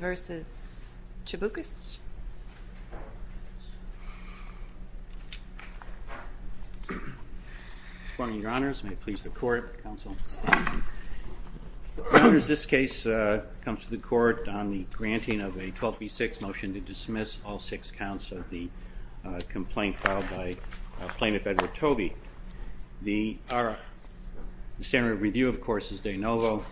May it please the court, counsel. This case comes to the court on the granting of a 12b6 motion to dismiss all six counts of the complaint filed by plaintiff Edward Tobey. The standard of review, of course, is de novo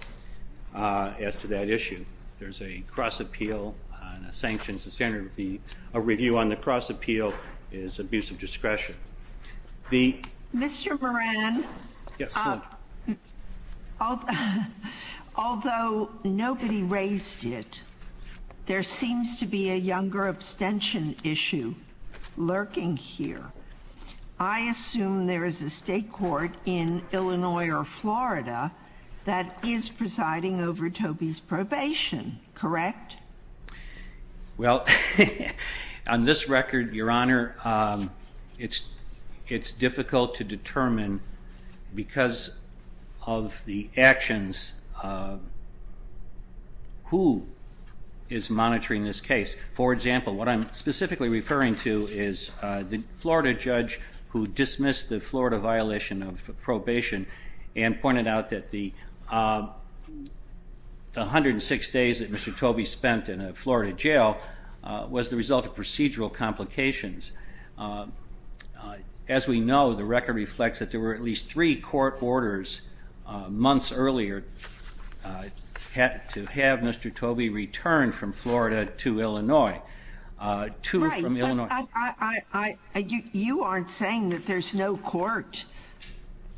as to that issue. There's a cross appeal and a sanction. The standard of review on the cross appeal is abuse of discretion. Mr. Moran, although nobody raised it, there seems to be a younger abstention issue lurking here. I assume there is a state court in Illinois or Florida that is presiding over Tobey's probation, correct? Well, on this record, your honor, it's difficult to determine because of the actions, who is monitoring this case. For example, what I'm specifically referring to is the Florida judge who dismissed the Florida violation of probation and pointed out that the 106 days that Mr. Tobey spent on probation, that he spent in a Florida jail, was the result of procedural complications. As we know, the record reflects that there were at least three court orders months earlier to have Mr. Tobey return from Florida to Illinois. Right. But you aren't saying that there's no court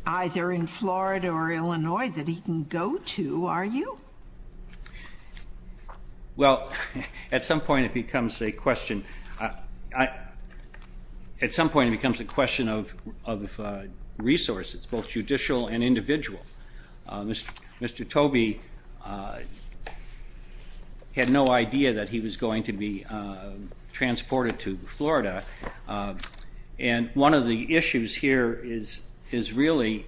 either in Florida or Illinois that he can go to, are you? Well, at some point it becomes a question of resources, both judicial and individual. Mr. Tobey had no idea that he was going to be transported to Florida. And one of the issues here is really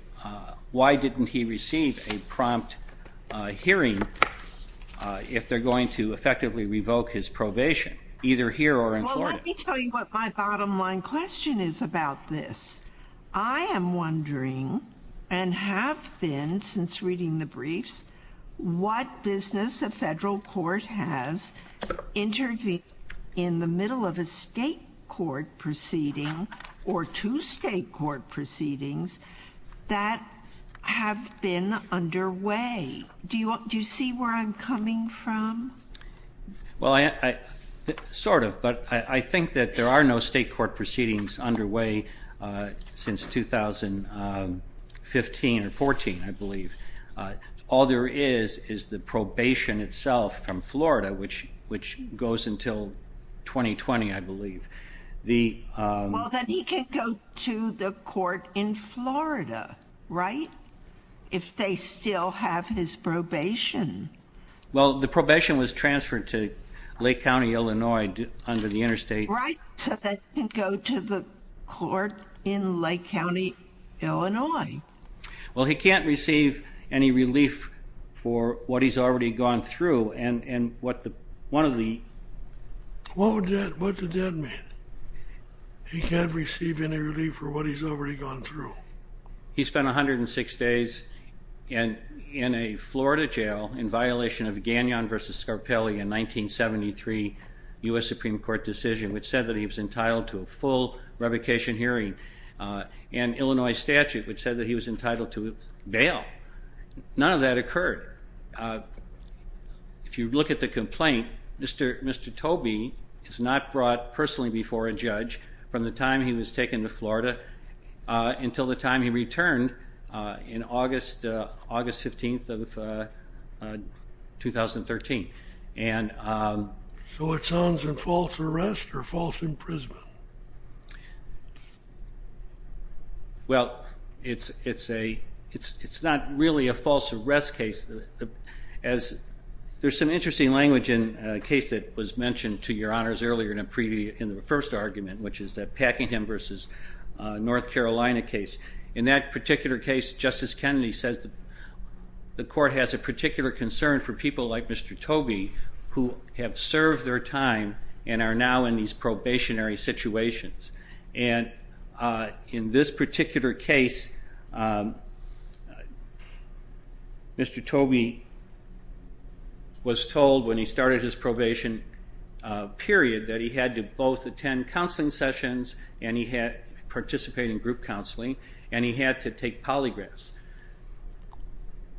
why didn't he receive a prompt hearing if they're going to effectively revoke his probation, either here or in Florida? Let me tell you what my bottom line question is about this. I am wondering, and have been since reading the briefs, what business a federal court has intervened in the middle of a state court proceeding or two state court proceedings that have been underway. Do you see where I'm coming from? Well, sort of, but I think that there are no state court proceedings underway since 2015 or 14, I believe. All there is is the probation itself from Florida, which goes until 2020, I believe. Well, then he can go to the court in Florida, right, if they still have his probation. Well, the probation was transferred to Lake County, Illinois under the interstate. Right, so that he can go to the court in Lake County, Illinois. Well, he can't receive any relief for what he's already gone through and what the, one of the... What would that, what does that mean? He can't receive any relief for what he's already gone through? He spent 106 days in a Florida jail in violation of Gagnon v. Scarpelli in 1973 U.S. Supreme Court decision, which said that he was entitled to a full revocation hearing. And Illinois statute, which said that he was entitled to bail. None of that occurred. If you look at the complaint, Mr. Tobey is not brought personally before a judge from the time he was taken to Florida until the time he returned in August 15th of 2013. So it's on as a false arrest or false imprisonment? Well, it's a, it's not really a false arrest case. As, there's some interesting language in a case that was mentioned to your honors earlier in the first argument, which is the Packingham v. North Carolina case. In that particular case, Justice Kennedy says the court has a particular concern for people like Mr. Tobey who have served their time and are now in these probationary situations. And in this particular case, Mr. Tobey was told when he started his probation period that he had to both attend counseling sessions and he had to participate in group counseling and he had to take polygraphs.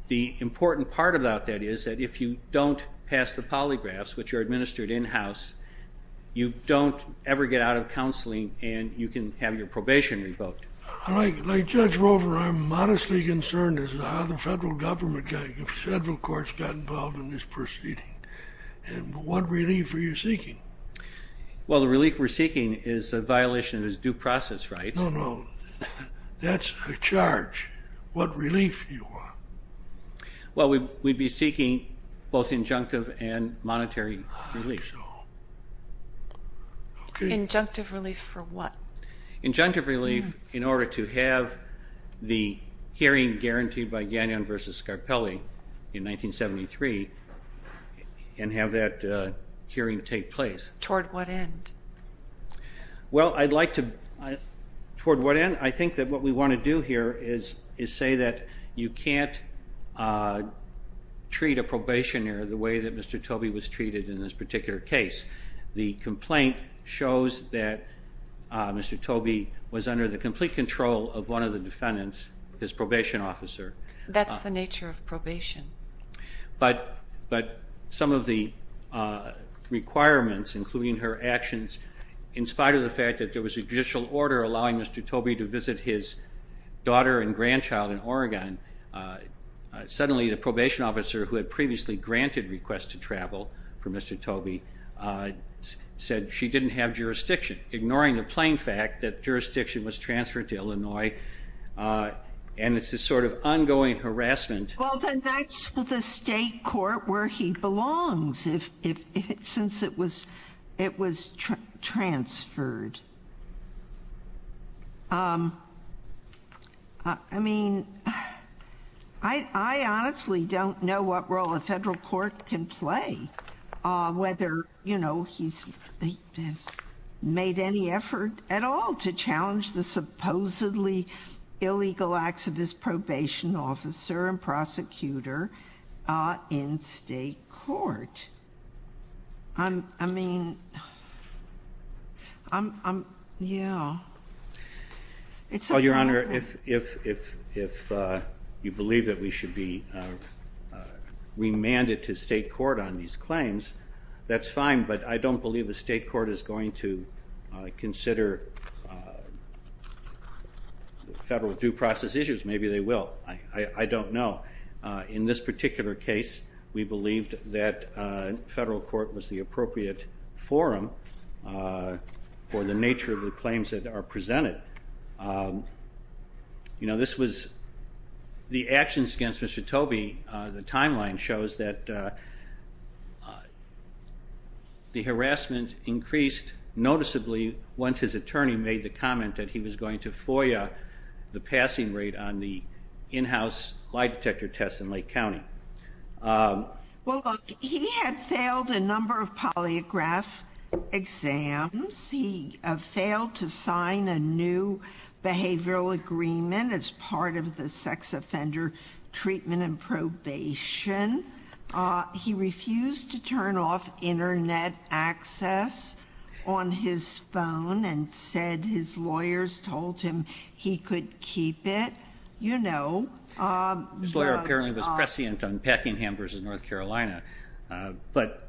The important part about that is that if you don't pass the polygraphs, which are administered in-house, you don't ever get out of counseling and you can have your probation revoked. Like Judge Rover, I'm modestly concerned as to how the federal government, the federal courts got involved in this proceeding. And what relief are you seeking? Well, the relief we're seeking is a violation of his due process rights. No, no, that's a charge. What relief do you want? Well, we'd be seeking both injunctive and monetary relief. Injunctive relief for what? Injunctive relief in order to have the hearing guaranteed by Gagnon v. Scarpelli in 1973 and have that hearing take place. Toward what end? Well, I'd like to, toward what end? I think that what we want to do here is say that you can't treat a probationer the way that Mr. Tobey was treated in this particular case. The complaint shows that Mr. Tobey was under the complete control of one of the defendants, his probation officer. That's the nature of probation. But some of the requirements, including her actions, in spite of the fact that there was a judicial order allowing Mr. Tobey to visit his daughter and grandchild in Oregon, suddenly the probation officer who had previously granted requests to travel for Mr. Tobey said she didn't have jurisdiction. Ignoring the plain fact that jurisdiction was transferred to Illinois and it's this sort of ongoing harassment. Well, then that's the state court where he belongs, since it was transferred. I mean, I honestly don't know what role a federal court can play, whether, you know, he's made any effort at all to challenge the supposedly illegal acts of his probation officer and prosecutor in state court. I mean, I'm, yeah. Well, Your Honor, if you believe that we should be remanded to state court on these claims, that's fine. But I don't believe the state court is going to consider federal due process issues. Maybe they will. I don't know. In this particular case, we believed that federal court was the appropriate forum for the nature of the claims that are presented. You know, this was the actions against Mr. Tobey, the timeline shows that the harassment increased noticeably once his attorney made the comment that he was going to FOIA the passing rate on the in-house lie detector test in Lake County. Well, he had failed a number of polygraph exams. He failed to sign a new behavioral agreement as part of the sex offender treatment and probation. He refused to turn off internet access on his phone and said his lawyers told him he could keep it, you know. His lawyer apparently was prescient on Packingham versus North Carolina. But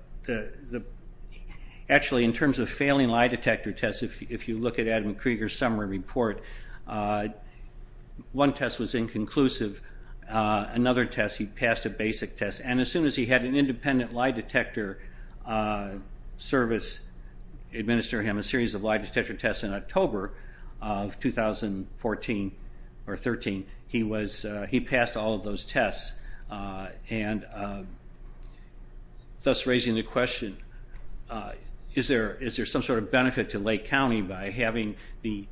actually, in terms of failing lie detector tests, if you look at Adam Krieger's summary report, one test was inconclusive. Another test, he passed a basic test. And as soon as he had an independent lie detector service administer him a series of lie detector tests in October of 2014 or 13, he passed all of those tests. And thus raising the question, is there some sort of benefit to Lake County by having the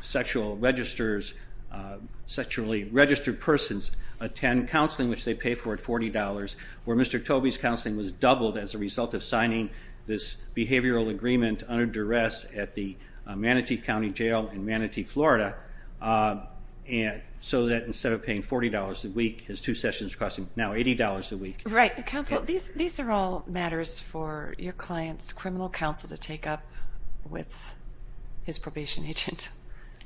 sexually registered persons attend counseling, which they pay for at $40, where Mr. Tobey's counseling was doubled as a result of signing this behavioral agreement under duress at the Manatee County Jail in Manatee, Florida. And so that instead of paying $40 a week, his two sessions cost him now $80 a week. Right. Counsel, these are all matters for your client's criminal counsel to take up with his probation agent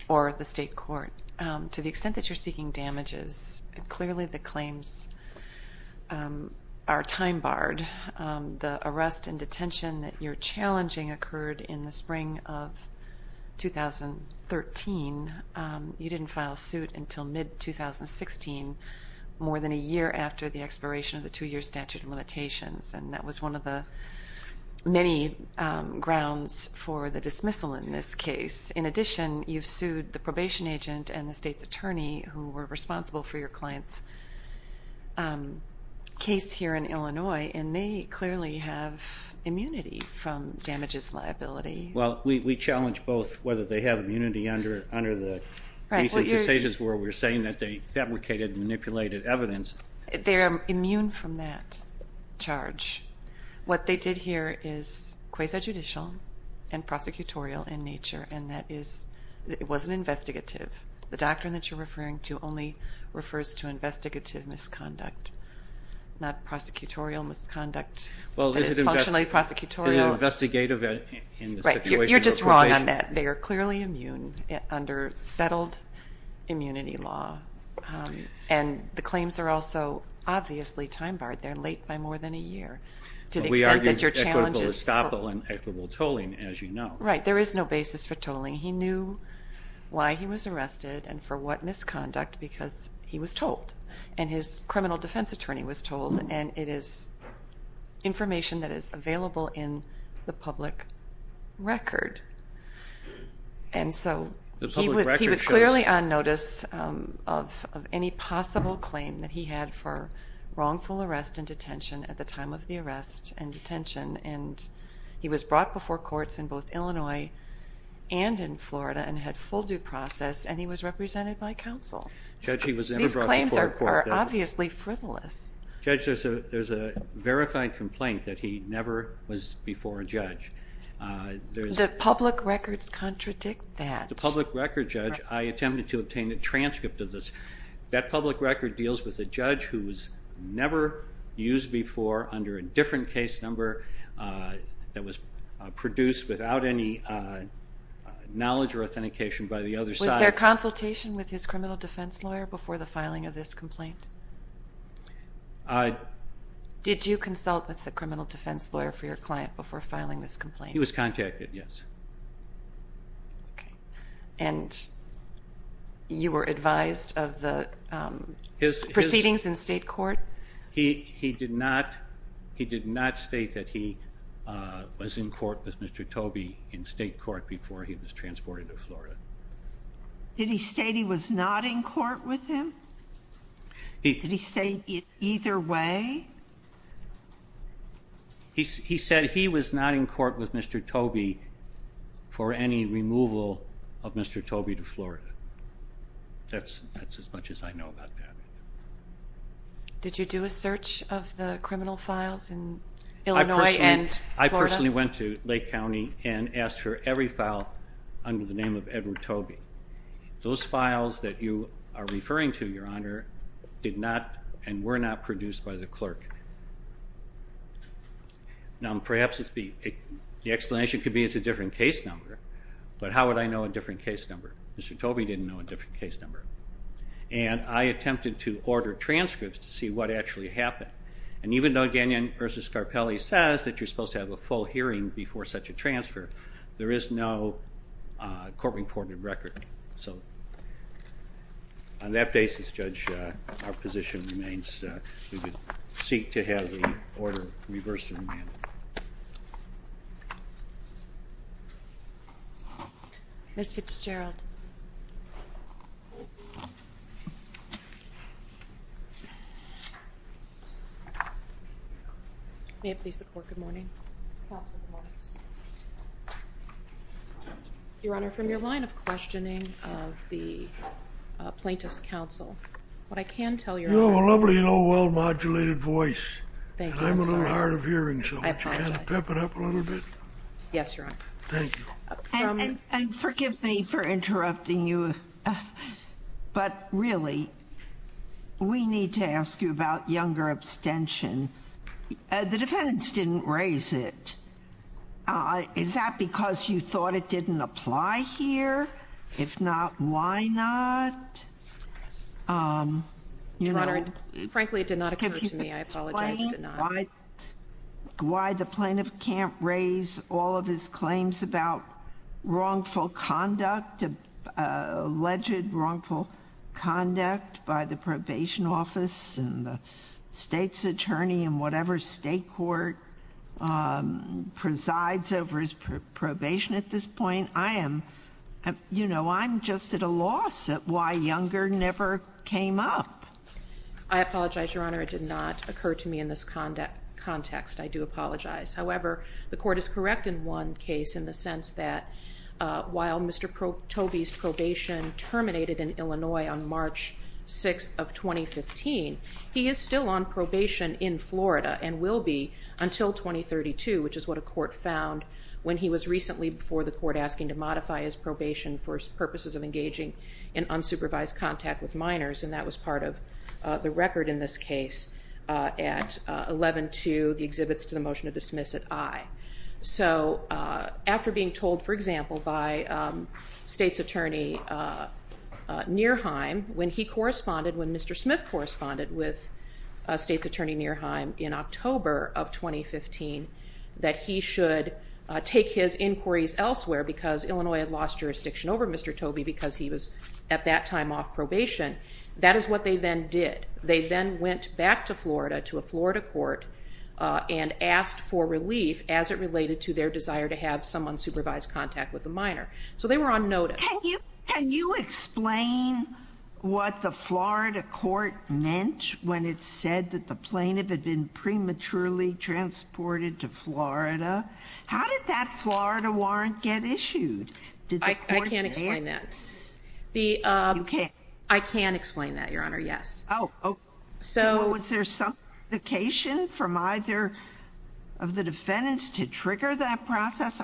or the state court. To the extent that you're seeking damages, clearly the claims are time barred. The arrest and detention that you're challenging occurred in the spring of 2013. You didn't file suit until mid-2016, more than a year after the expiration of the two-year statute of limitations. And that was one of the many grounds for the dismissal in this case. In addition, you've sued the probation agent and the state's attorney who were responsible for your client's case here in Illinois. They clearly have immunity from damages liability. Well, we challenge both whether they have immunity under the recent decisions where we're saying that they fabricated and manipulated evidence. They're immune from that charge. What they did here is quasi-judicial and prosecutorial in nature, and that is, it wasn't investigative. The doctrine that you're referring to only refers to investigative misconduct, not prosecutorial misconduct. Well, is it investigative in the situation of probation? Right. You're just wrong on that. They are clearly immune under settled immunity law. And the claims are also obviously time barred. They're late by more than a year, to the extent that your challenges... But we argued equitable estoppel and equitable tolling, as you know. Right. There is no basis for tolling. He knew why he was arrested and for what misconduct because he was told. And his criminal defense attorney was told. And it is information that is available in the public record. And so he was clearly on notice of any possible claim that he had for wrongful arrest and detention at the time of the arrest and detention. And he was brought before courts in both Illinois and in Florida and had full due process. And he was represented by counsel. Judge, he was never brought before a court. These claims are obviously frivolous. Judge, there's a verified complaint that he never was before a judge. The public records contradict that. The public record, Judge, I attempted to obtain a transcript of this. That public record deals with a judge who was never used before under a different case number that was produced without any knowledge or authentication by the other side. Was there consultation with his criminal defense lawyer before the filing of this complaint? Did you consult with the criminal defense lawyer for your client before filing this complaint? He was contacted, yes. Okay. And you were advised of the proceedings in state court? He did not state that he was in court with Mr. Tobey in state court before he was transported to Florida. Did he state he was not in court with him? Did he state either way? He said he was not in court with Mr. Tobey for any removal of Mr. Tobey to Florida. That's as much as I know about that. Did you do a search of the criminal files in Illinois and Florida? I personally went to Lake County and asked for every file under the name of Edward Tobey. Those files that you are referring to, Your Honor, did not and were not produced by the clerk. Now perhaps the explanation could be it's a different case number, but how would I know a different case number? Mr. Tobey didn't know a different case number. And I attempted to order transcripts to see what actually happened. And even though Gagnon v. Scarpelli says that you're supposed to have a full hearing before such a transfer, there is no court-reported record. So on that basis, Judge, our position remains that we would seek to have the order reversed and remanded. Ms. Fitzgerald. May it please the Court, good morning. Counsel, good morning. Your Honor, from your line of questioning of the Plaintiff's Counsel, what I can tell you— You have a lovely, well-modulated voice. Thank you. I'm sorry. And I'm a little hard of hearing, so would you kind of pep it up a little bit? Yes, Your Honor. Thank you. And forgive me for interrupting you, but really, we need to ask you about younger abstention. The defendants didn't raise it. Is that because you thought it didn't apply here? If not, why not? Your Honor, frankly, it did not occur to me. I apologize. Why the plaintiff can't raise all of his claims about wrongful conduct, alleged wrongful conduct by the probation office and the State's attorney and whatever State court presides over his probation at this point, I am, you know, I'm just at a loss at why younger never came up. I apologize, Your Honor. It did not occur to me in this context. I do apologize. However, the court is correct in one case in the sense that while Mr. Tobey's probation terminated in Illinois on March 6th of 2015, he is still on probation in Florida and will be until 2032, which is what a court found when he was recently before the court asking to modify his probation for purposes of engaging in unsupervised contact with minors, and that was part of the record in this case at 11-2, the exhibits to the motion to dismiss at I. So after being told, for example, by State's attorney Nierheim when he corresponded, when Mr. Smith corresponded with State's attorney Nierheim in October of 2015, that he should take his inquiries elsewhere because Illinois had lost jurisdiction over Mr. Tobey because he was at that time off probation, that is what they then did. They then went back to Florida to a Florida court and asked for relief as it related to their desire to have someone supervise contact with a minor. So they were on notice. Can you explain what the Florida court meant when it said that the plaintiff had been prematurely transported to Florida? How did that Florida warrant get issued? I can't explain that. You can't? I can explain that, Your Honor, yes. Oh, okay. So was there some indication from either of the defendants to trigger that process?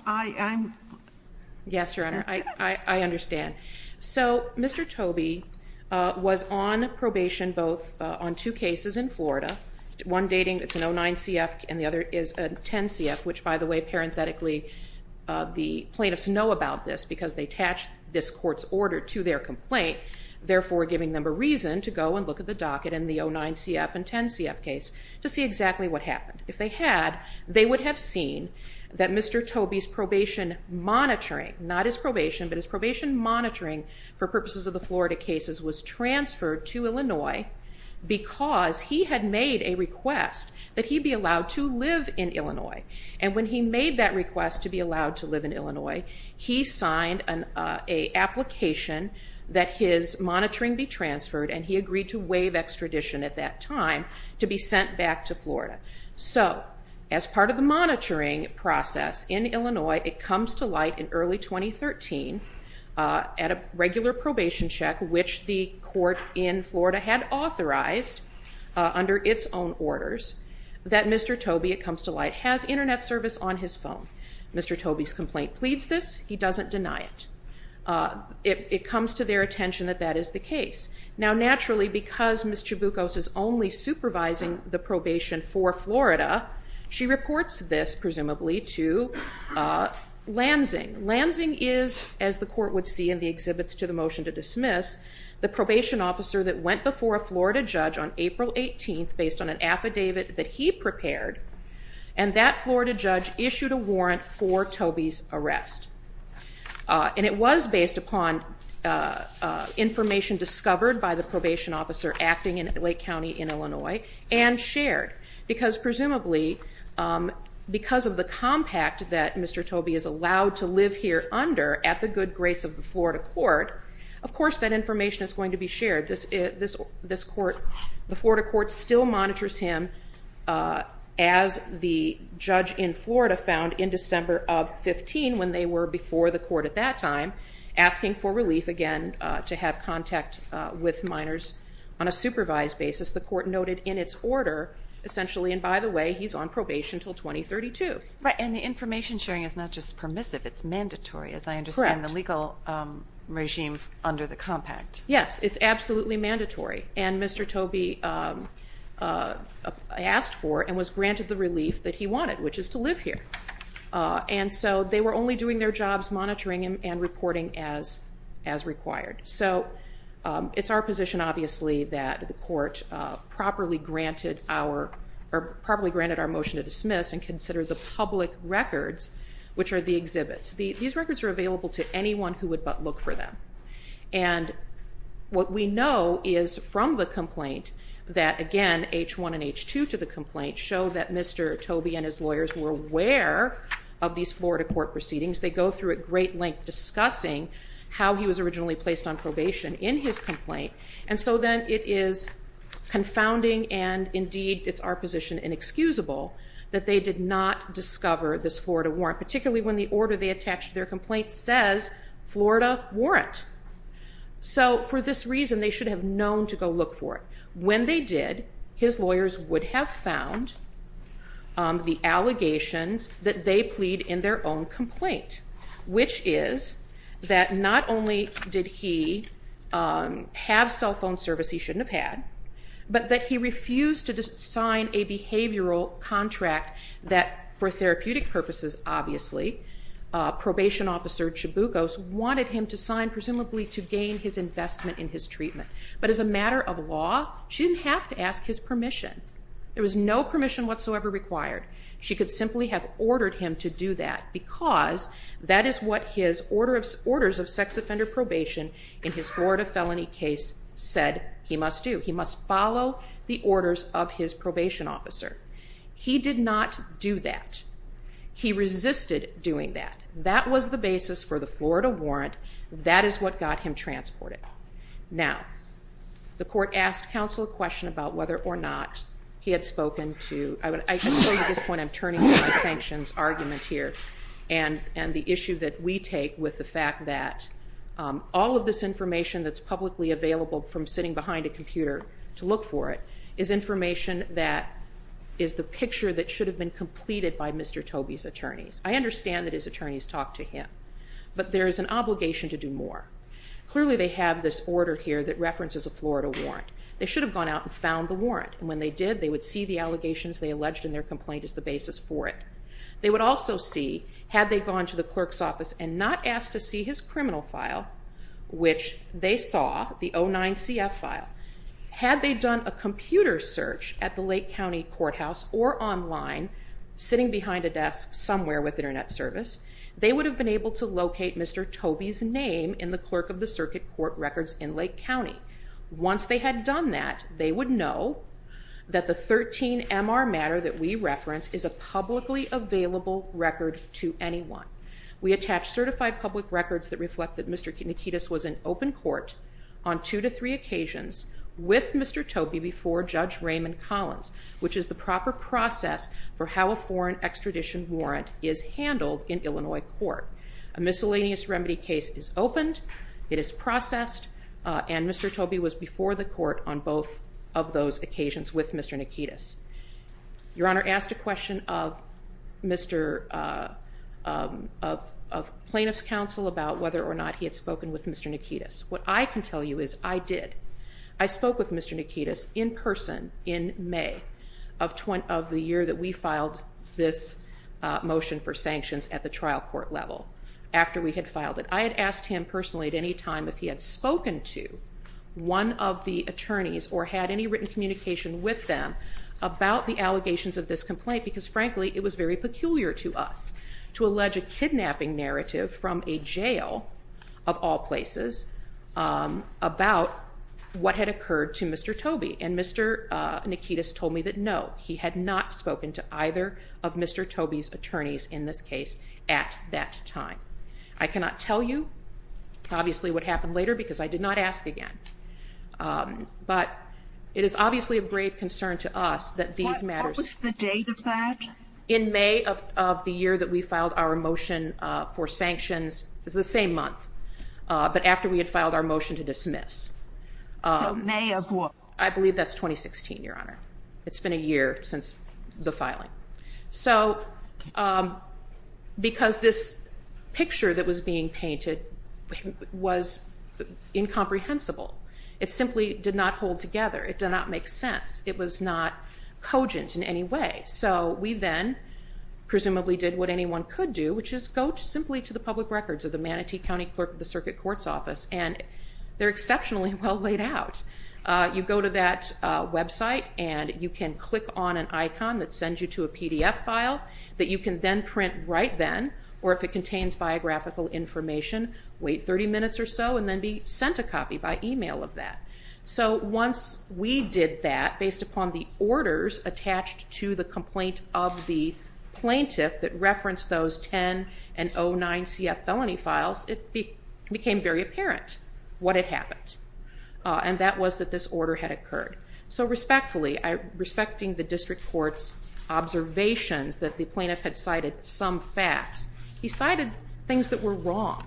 Yes, Your Honor, I understand. So Mr. Tobey was on probation both on two cases in Florida, one dating, it's an 09-CF and the other is a 10-CF, which, by the way, parenthetically, the plaintiffs know about this because they attached this court's order to their complaint, therefore giving them a reason to go and look at the docket in the 09-CF and 10-CF case to see exactly what happened. If they had, they would have seen that Mr. Tobey's probation monitoring, not his probation, but his probation monitoring for purposes of the Florida cases was transferred to Illinois because he had made a request that he be allowed to live in Illinois. And when he made that request to be allowed to live in Illinois, he signed an application that his monitoring be transferred, and he agreed to waive extradition at that time to be sent back to Florida. So as part of the monitoring process in Illinois, it comes to light in early 2013 at a regular probation check, which the court in Florida had authorized under its own orders, that Mr. Tobey, it comes to light, has Internet service on his phone. Mr. Tobey's complaint pleads this. He doesn't deny it. It comes to their attention that that is the case. Now, naturally, because Ms. Chaboukos is only supervising the probation for Florida, she reports this, presumably, to Lansing. Lansing is, as the court would see in the exhibits to the motion to dismiss, the probation officer that went before a Florida judge on April 18th based on an affidavit that he prepared, and that Florida judge issued a warrant for Tobey's arrest. And it was based upon information discovered by the probation officer acting in Lake County in Illinois and shared because, presumably, because of the compact that Mr. Tobey is allowed to live here under at the good grace of the Florida court, of course that information is going to be shared. The Florida court still monitors him, as the judge in Florida found in December of 15, when they were before the court at that time, asking for relief, again, to have contact with minors on a supervised basis. The court noted in its order, essentially, and by the way, he's on probation until 2032. Right, and the information sharing is not just permissive, it's mandatory, as I understand. Correct. The legal regime under the compact. Yes, it's absolutely mandatory. And Mr. Tobey asked for and was granted the relief that he wanted, which is to live here. And so they were only doing their jobs monitoring him and reporting as required. So it's our position, obviously, that the court properly granted our motion to dismiss and consider the public records, which are the exhibits. These records are available to anyone who would but look for them. And what we know is from the complaint that, again, H1 and H2 to the complaint show that Mr. Tobey and his lawyers were aware of these Florida court proceedings. They go through at great length discussing how he was originally placed on probation in his complaint. And so then it is confounding, and indeed it's our position inexcusable, that they did not discover this Florida warrant, particularly when the order they attached to their complaint says Florida warrant. So for this reason, they should have known to go look for it. When they did, his lawyers would have found the allegations that they plead in their own complaint, which is that not only did he have cell phone service he shouldn't have had, but that he refused to sign a behavioral contract that, for therapeutic purposes, obviously, probation officer Chabucos wanted him to sign, presumably to gain his investment in his treatment. But as a matter of law, she didn't have to ask his permission. There was no permission whatsoever required. She could simply have ordered him to do that because that is what his orders of sex offender probation in his Florida felony case said he must do. He must follow the orders of his probation officer. He did not do that. He resisted doing that. That was the basis for the Florida warrant. That is what got him transported. Now, the court asked counsel a question about whether or not he had spoken to I can tell you at this point I'm turning to my sanctions argument here and the issue that we take with the fact that all of this information that's publicly available from sitting behind a computer to look for it is information that is the picture that should have been completed by Mr. Tobey's attorneys. I understand that his attorneys talked to him, but there is an obligation to do more. Clearly, they have this order here that references a Florida warrant. They should have gone out and found the warrant, and when they did, they would see the allegations they alleged in their complaint as the basis for it. They would also see, had they gone to the clerk's office and not asked to see his criminal file, which they saw, the 09-CF file, had they done a computer search at the Lake County Courthouse or online sitting behind a desk somewhere with Internet service, they would have been able to locate Mr. Tobey's name in the clerk of the circuit court records in Lake County. Once they had done that, they would know that the 13-MR matter that we reference is a publicly available record to anyone. We attach certified public records that reflect that Mr. Nikitas was in open court on two to three occasions with Mr. Tobey before Judge Raymond Collins, which is the proper process for how a foreign extradition warrant is handled in Illinois court. A miscellaneous remedy case is opened, it is processed, and Mr. Tobey was before the court on both of those occasions with Mr. Nikitas. Your Honor, I asked a question of plaintiff's counsel about whether or not he had spoken with Mr. Nikitas. What I can tell you is I did. I spoke with Mr. Nikitas in person in May of the year that we filed this motion for sanctions at the trial court level after we had filed it. I had asked him personally at any time if he had spoken to one of the attorneys or had any written communication with them about the allegations of this complaint because, frankly, it was very peculiar to us to allege a kidnapping narrative from a jail of all places about what had occurred to Mr. Tobey, and Mr. Nikitas told me that no, he had not spoken to either of Mr. Tobey's attorneys in this case at that time. I cannot tell you, obviously, what happened later because I did not ask again. But it is obviously a grave concern to us that these matters- What was the date of that? In May of the year that we filed our motion for sanctions. It was the same month, but after we had filed our motion to dismiss. No, May of what? I believe that's 2016, Your Honor. It's been a year since the filing. So because this picture that was being painted was incomprehensible. It simply did not hold together. It did not make sense. It was not cogent in any way. So we then presumably did what anyone could do, which is go simply to the public records of the Manatee County Clerk of the Circuit Court's Office, and they're exceptionally well laid out. You go to that website and you can click on an icon that sends you to a PDF file that you can then print right then, or if it contains biographical information, wait 30 minutes or so and then be sent a copy by email of that. So once we did that, based upon the orders attached to the complaint of the plaintiff that referenced those 10 and 09 CF felony files, it became very apparent what had happened. And that was that this order had occurred. So respectfully, respecting the district court's observations that the plaintiff had cited some facts, he cited things that were wrong.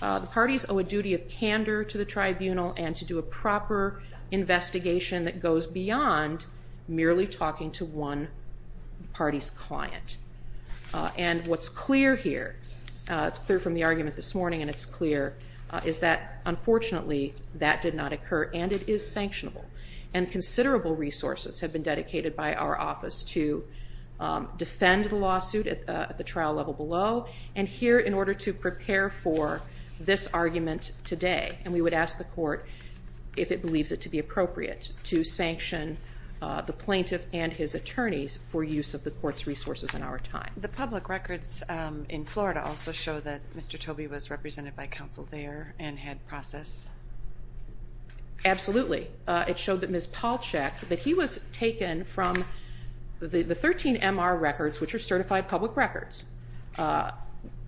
The parties owe a duty of candor to the tribunal and to do a proper investigation that goes beyond merely talking to one party's client. And what's clear here, it's clear from the argument this morning and it's clear, is that unfortunately that did not occur and it is sanctionable. And considerable resources have been dedicated by our office to defend the lawsuit at the trial level below and here in order to prepare for this argument today. And we would ask the court if it believes it to be appropriate to sanction the plaintiff and his attorneys for use of the court's resources in our time. The public records in Florida also show that Mr. Tobey was represented by counsel there and had process? Absolutely. It showed that Ms. Palchak, that he was taken from the 13 MR records, which are certified public records,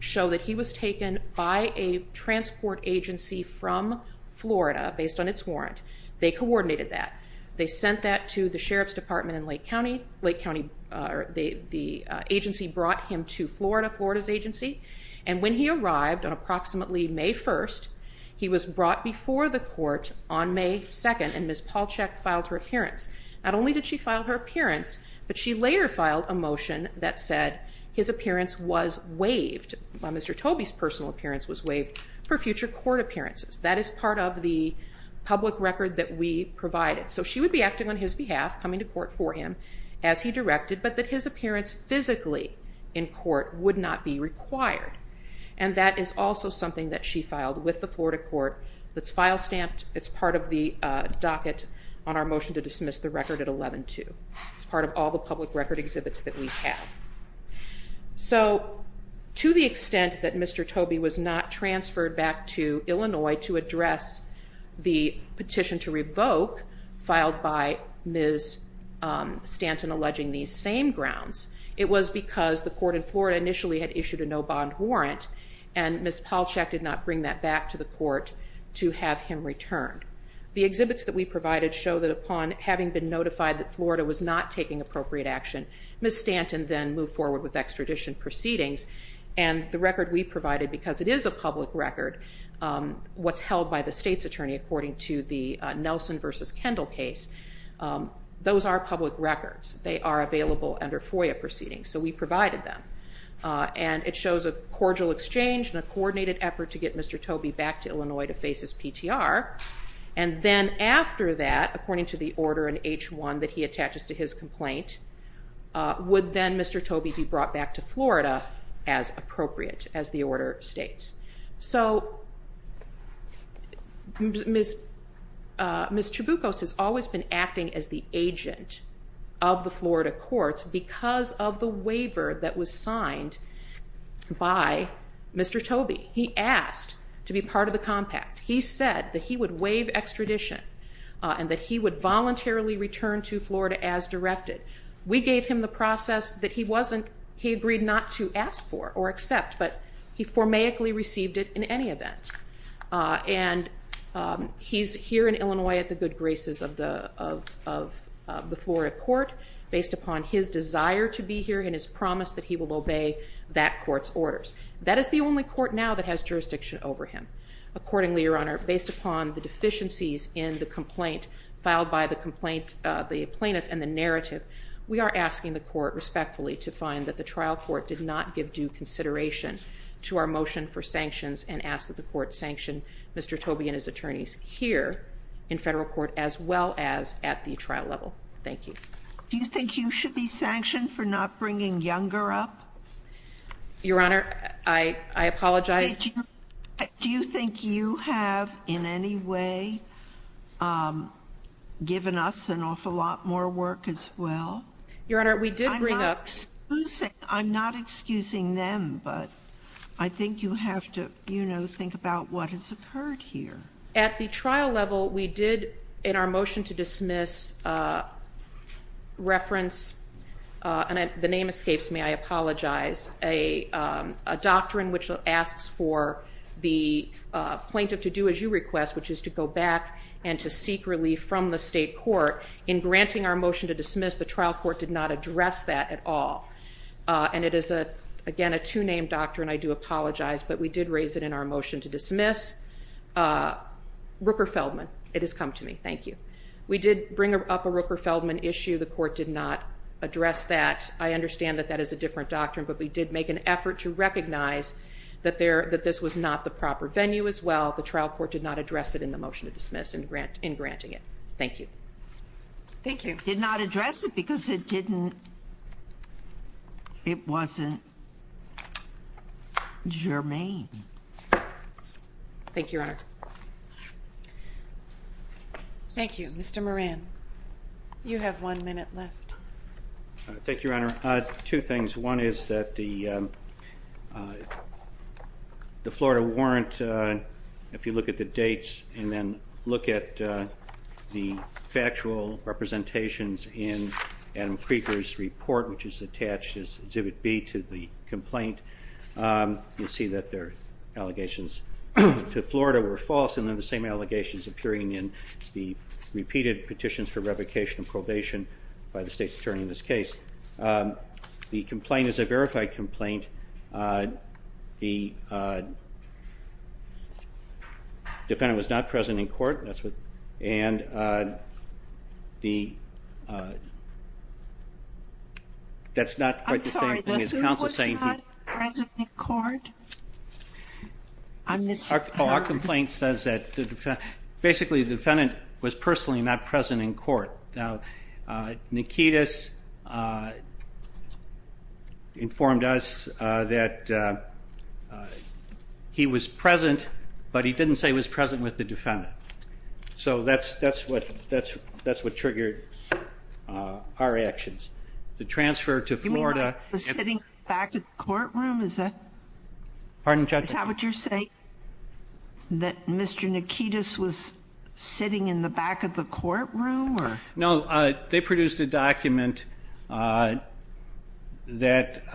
show that he was taken by a transport agency from Florida based on its warrant. They coordinated that. They sent that to the sheriff's department in Lake County. The agency brought him to Florida, Florida's agency. And when he arrived on approximately May 1st, he was brought before the court on May 2nd and Ms. Palchak filed her appearance. Not only did she file her appearance, but she later filed a motion that said his appearance was waived, Mr. Tobey's personal appearance was waived for future court appearances. That is part of the public record that we provided. So she would be acting on his behalf, coming to court for him as he directed, but that his appearance physically in court would not be required. And that is also something that she filed with the Florida court. It's file stamped. It's part of the docket on our motion to dismiss the record at 11-2. It's part of all the public record exhibits that we have. So to the extent that Mr. Tobey was not transferred back to Illinois to address the petition to revoke filed by Ms. Stanton alleging these same grounds, it was because the court in Florida initially had issued a no bond warrant and Ms. Palchak did not bring that back to the court to have him returned. The exhibits that we provided show that upon having been notified that Florida was not taking appropriate action, Ms. Stanton then moved forward with extradition proceedings. And the record we provided, because it is a public record, what's held by the state's attorney according to the Nelson v. Kendall case, those are public records. They are available under FOIA proceedings. So we provided them. And it shows a cordial exchange and a coordinated effort to get Mr. Tobey back to Illinois to face his PTR. And then after that, according to the order in H-1 that he attaches to his complaint, would then Mr. Tobey be brought back to Florida as appropriate, as the order states. So Ms. Chaboukos has always been acting as the agent of the Florida courts because of the waiver that was signed by Mr. Tobey. He asked to be part of the compact. He said that he would waive extradition and that he would voluntarily return to Florida as directed. We gave him the process that he agreed not to ask for or accept, but he formaically received it in any event. And he's here in Illinois at the good graces of the Florida court, based upon his desire to be here and his promise that he will obey that court's orders. That is the only court now that has jurisdiction over him. Accordingly, Your Honor, based upon the deficiencies in the complaint filed by the plaintiff and the narrative, we are asking the court respectfully to find that the trial court did not give due consideration to our motion for sanctions and ask that the court sanction Mr. Tobey and his attorneys here in federal court as well as at the trial level. Thank you. Do you think you should be sanctioned for not bringing Younger up? Your Honor, I apologize. Do you think you have in any way given us an awful lot more work as well? Your Honor, we did bring up. I'm not excusing them, but I think you have to, you know, think about what has occurred here. At the trial level, we did in our motion to dismiss reference, and the name escapes me, I apologize, a doctrine which asks for the plaintiff to do as you request, which is to go back and to seek relief from the state court. In granting our motion to dismiss, the trial court did not address that at all. And it is, again, a two-name doctrine. I do apologize, but we did raise it in our motion to dismiss. Rooker-Feldman, it has come to me. Thank you. We did bring up a Rooker-Feldman issue. The court did not address that. I understand that that is a different doctrine, but we did make an effort to recognize that this was not the proper venue as well. The trial court did not address it in the motion to dismiss in granting it. Thank you. Thank you. Did not address it because it didn't, it wasn't germane. Thank you, Your Honor. Thank you. Mr. Moran, you have one minute left. Thank you, Your Honor. Two things. One is that the Florida warrant, if you look at the dates and then look at the factual representations in Adam Krieger's report, which is attached as Exhibit B to the complaint, you'll see that their allegations to Florida were false and they're the same allegations appearing in the repeated petitions for revocation and probation by the state's attorney in this case. The complaint is a verified complaint. The defendant was not present in court. And that's not quite the same thing as counsel saying he was not present in court. Our complaint says that basically the defendant was personally not present in court. Now, Nikitas informed us that he was present, but he didn't say he was present with the defendant. So that's what triggered our actions. The transfer to Florida. You mean he was sitting in the back of the courtroom? Is that what you're saying? That Mr. Nikitas was sitting in the back of the courtroom? No, they produced a document that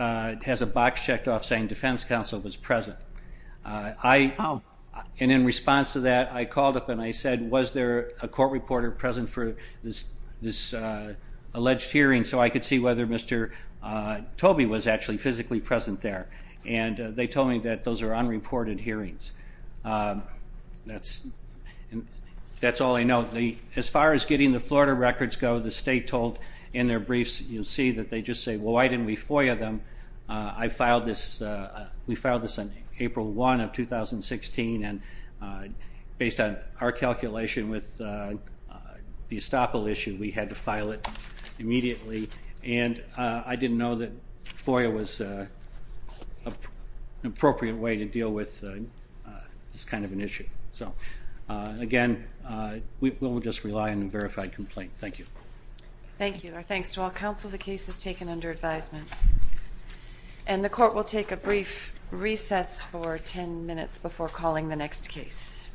has a box checked off saying defense counsel was present. And in response to that, I called up and I said, was there a court reporter present for this alleged hearing so I could see whether Mr. Tobey was actually physically present there? And they told me that those are unreported hearings. That's all I know. As far as getting the Florida records go, the state told in their briefs, you'll see that they just say, well, why didn't we FOIA them? We filed this on April 1 of 2016, and based on our calculation with the estoppel issue, we had to file it immediately. And I didn't know that FOIA was an appropriate way to deal with this kind of an issue. So, again, we'll just rely on a verified complaint. Thank you. Thank you. Our thanks to all counsel. The case is taken under advisement. And the court will take a brief recess for 10 minutes before calling the next case.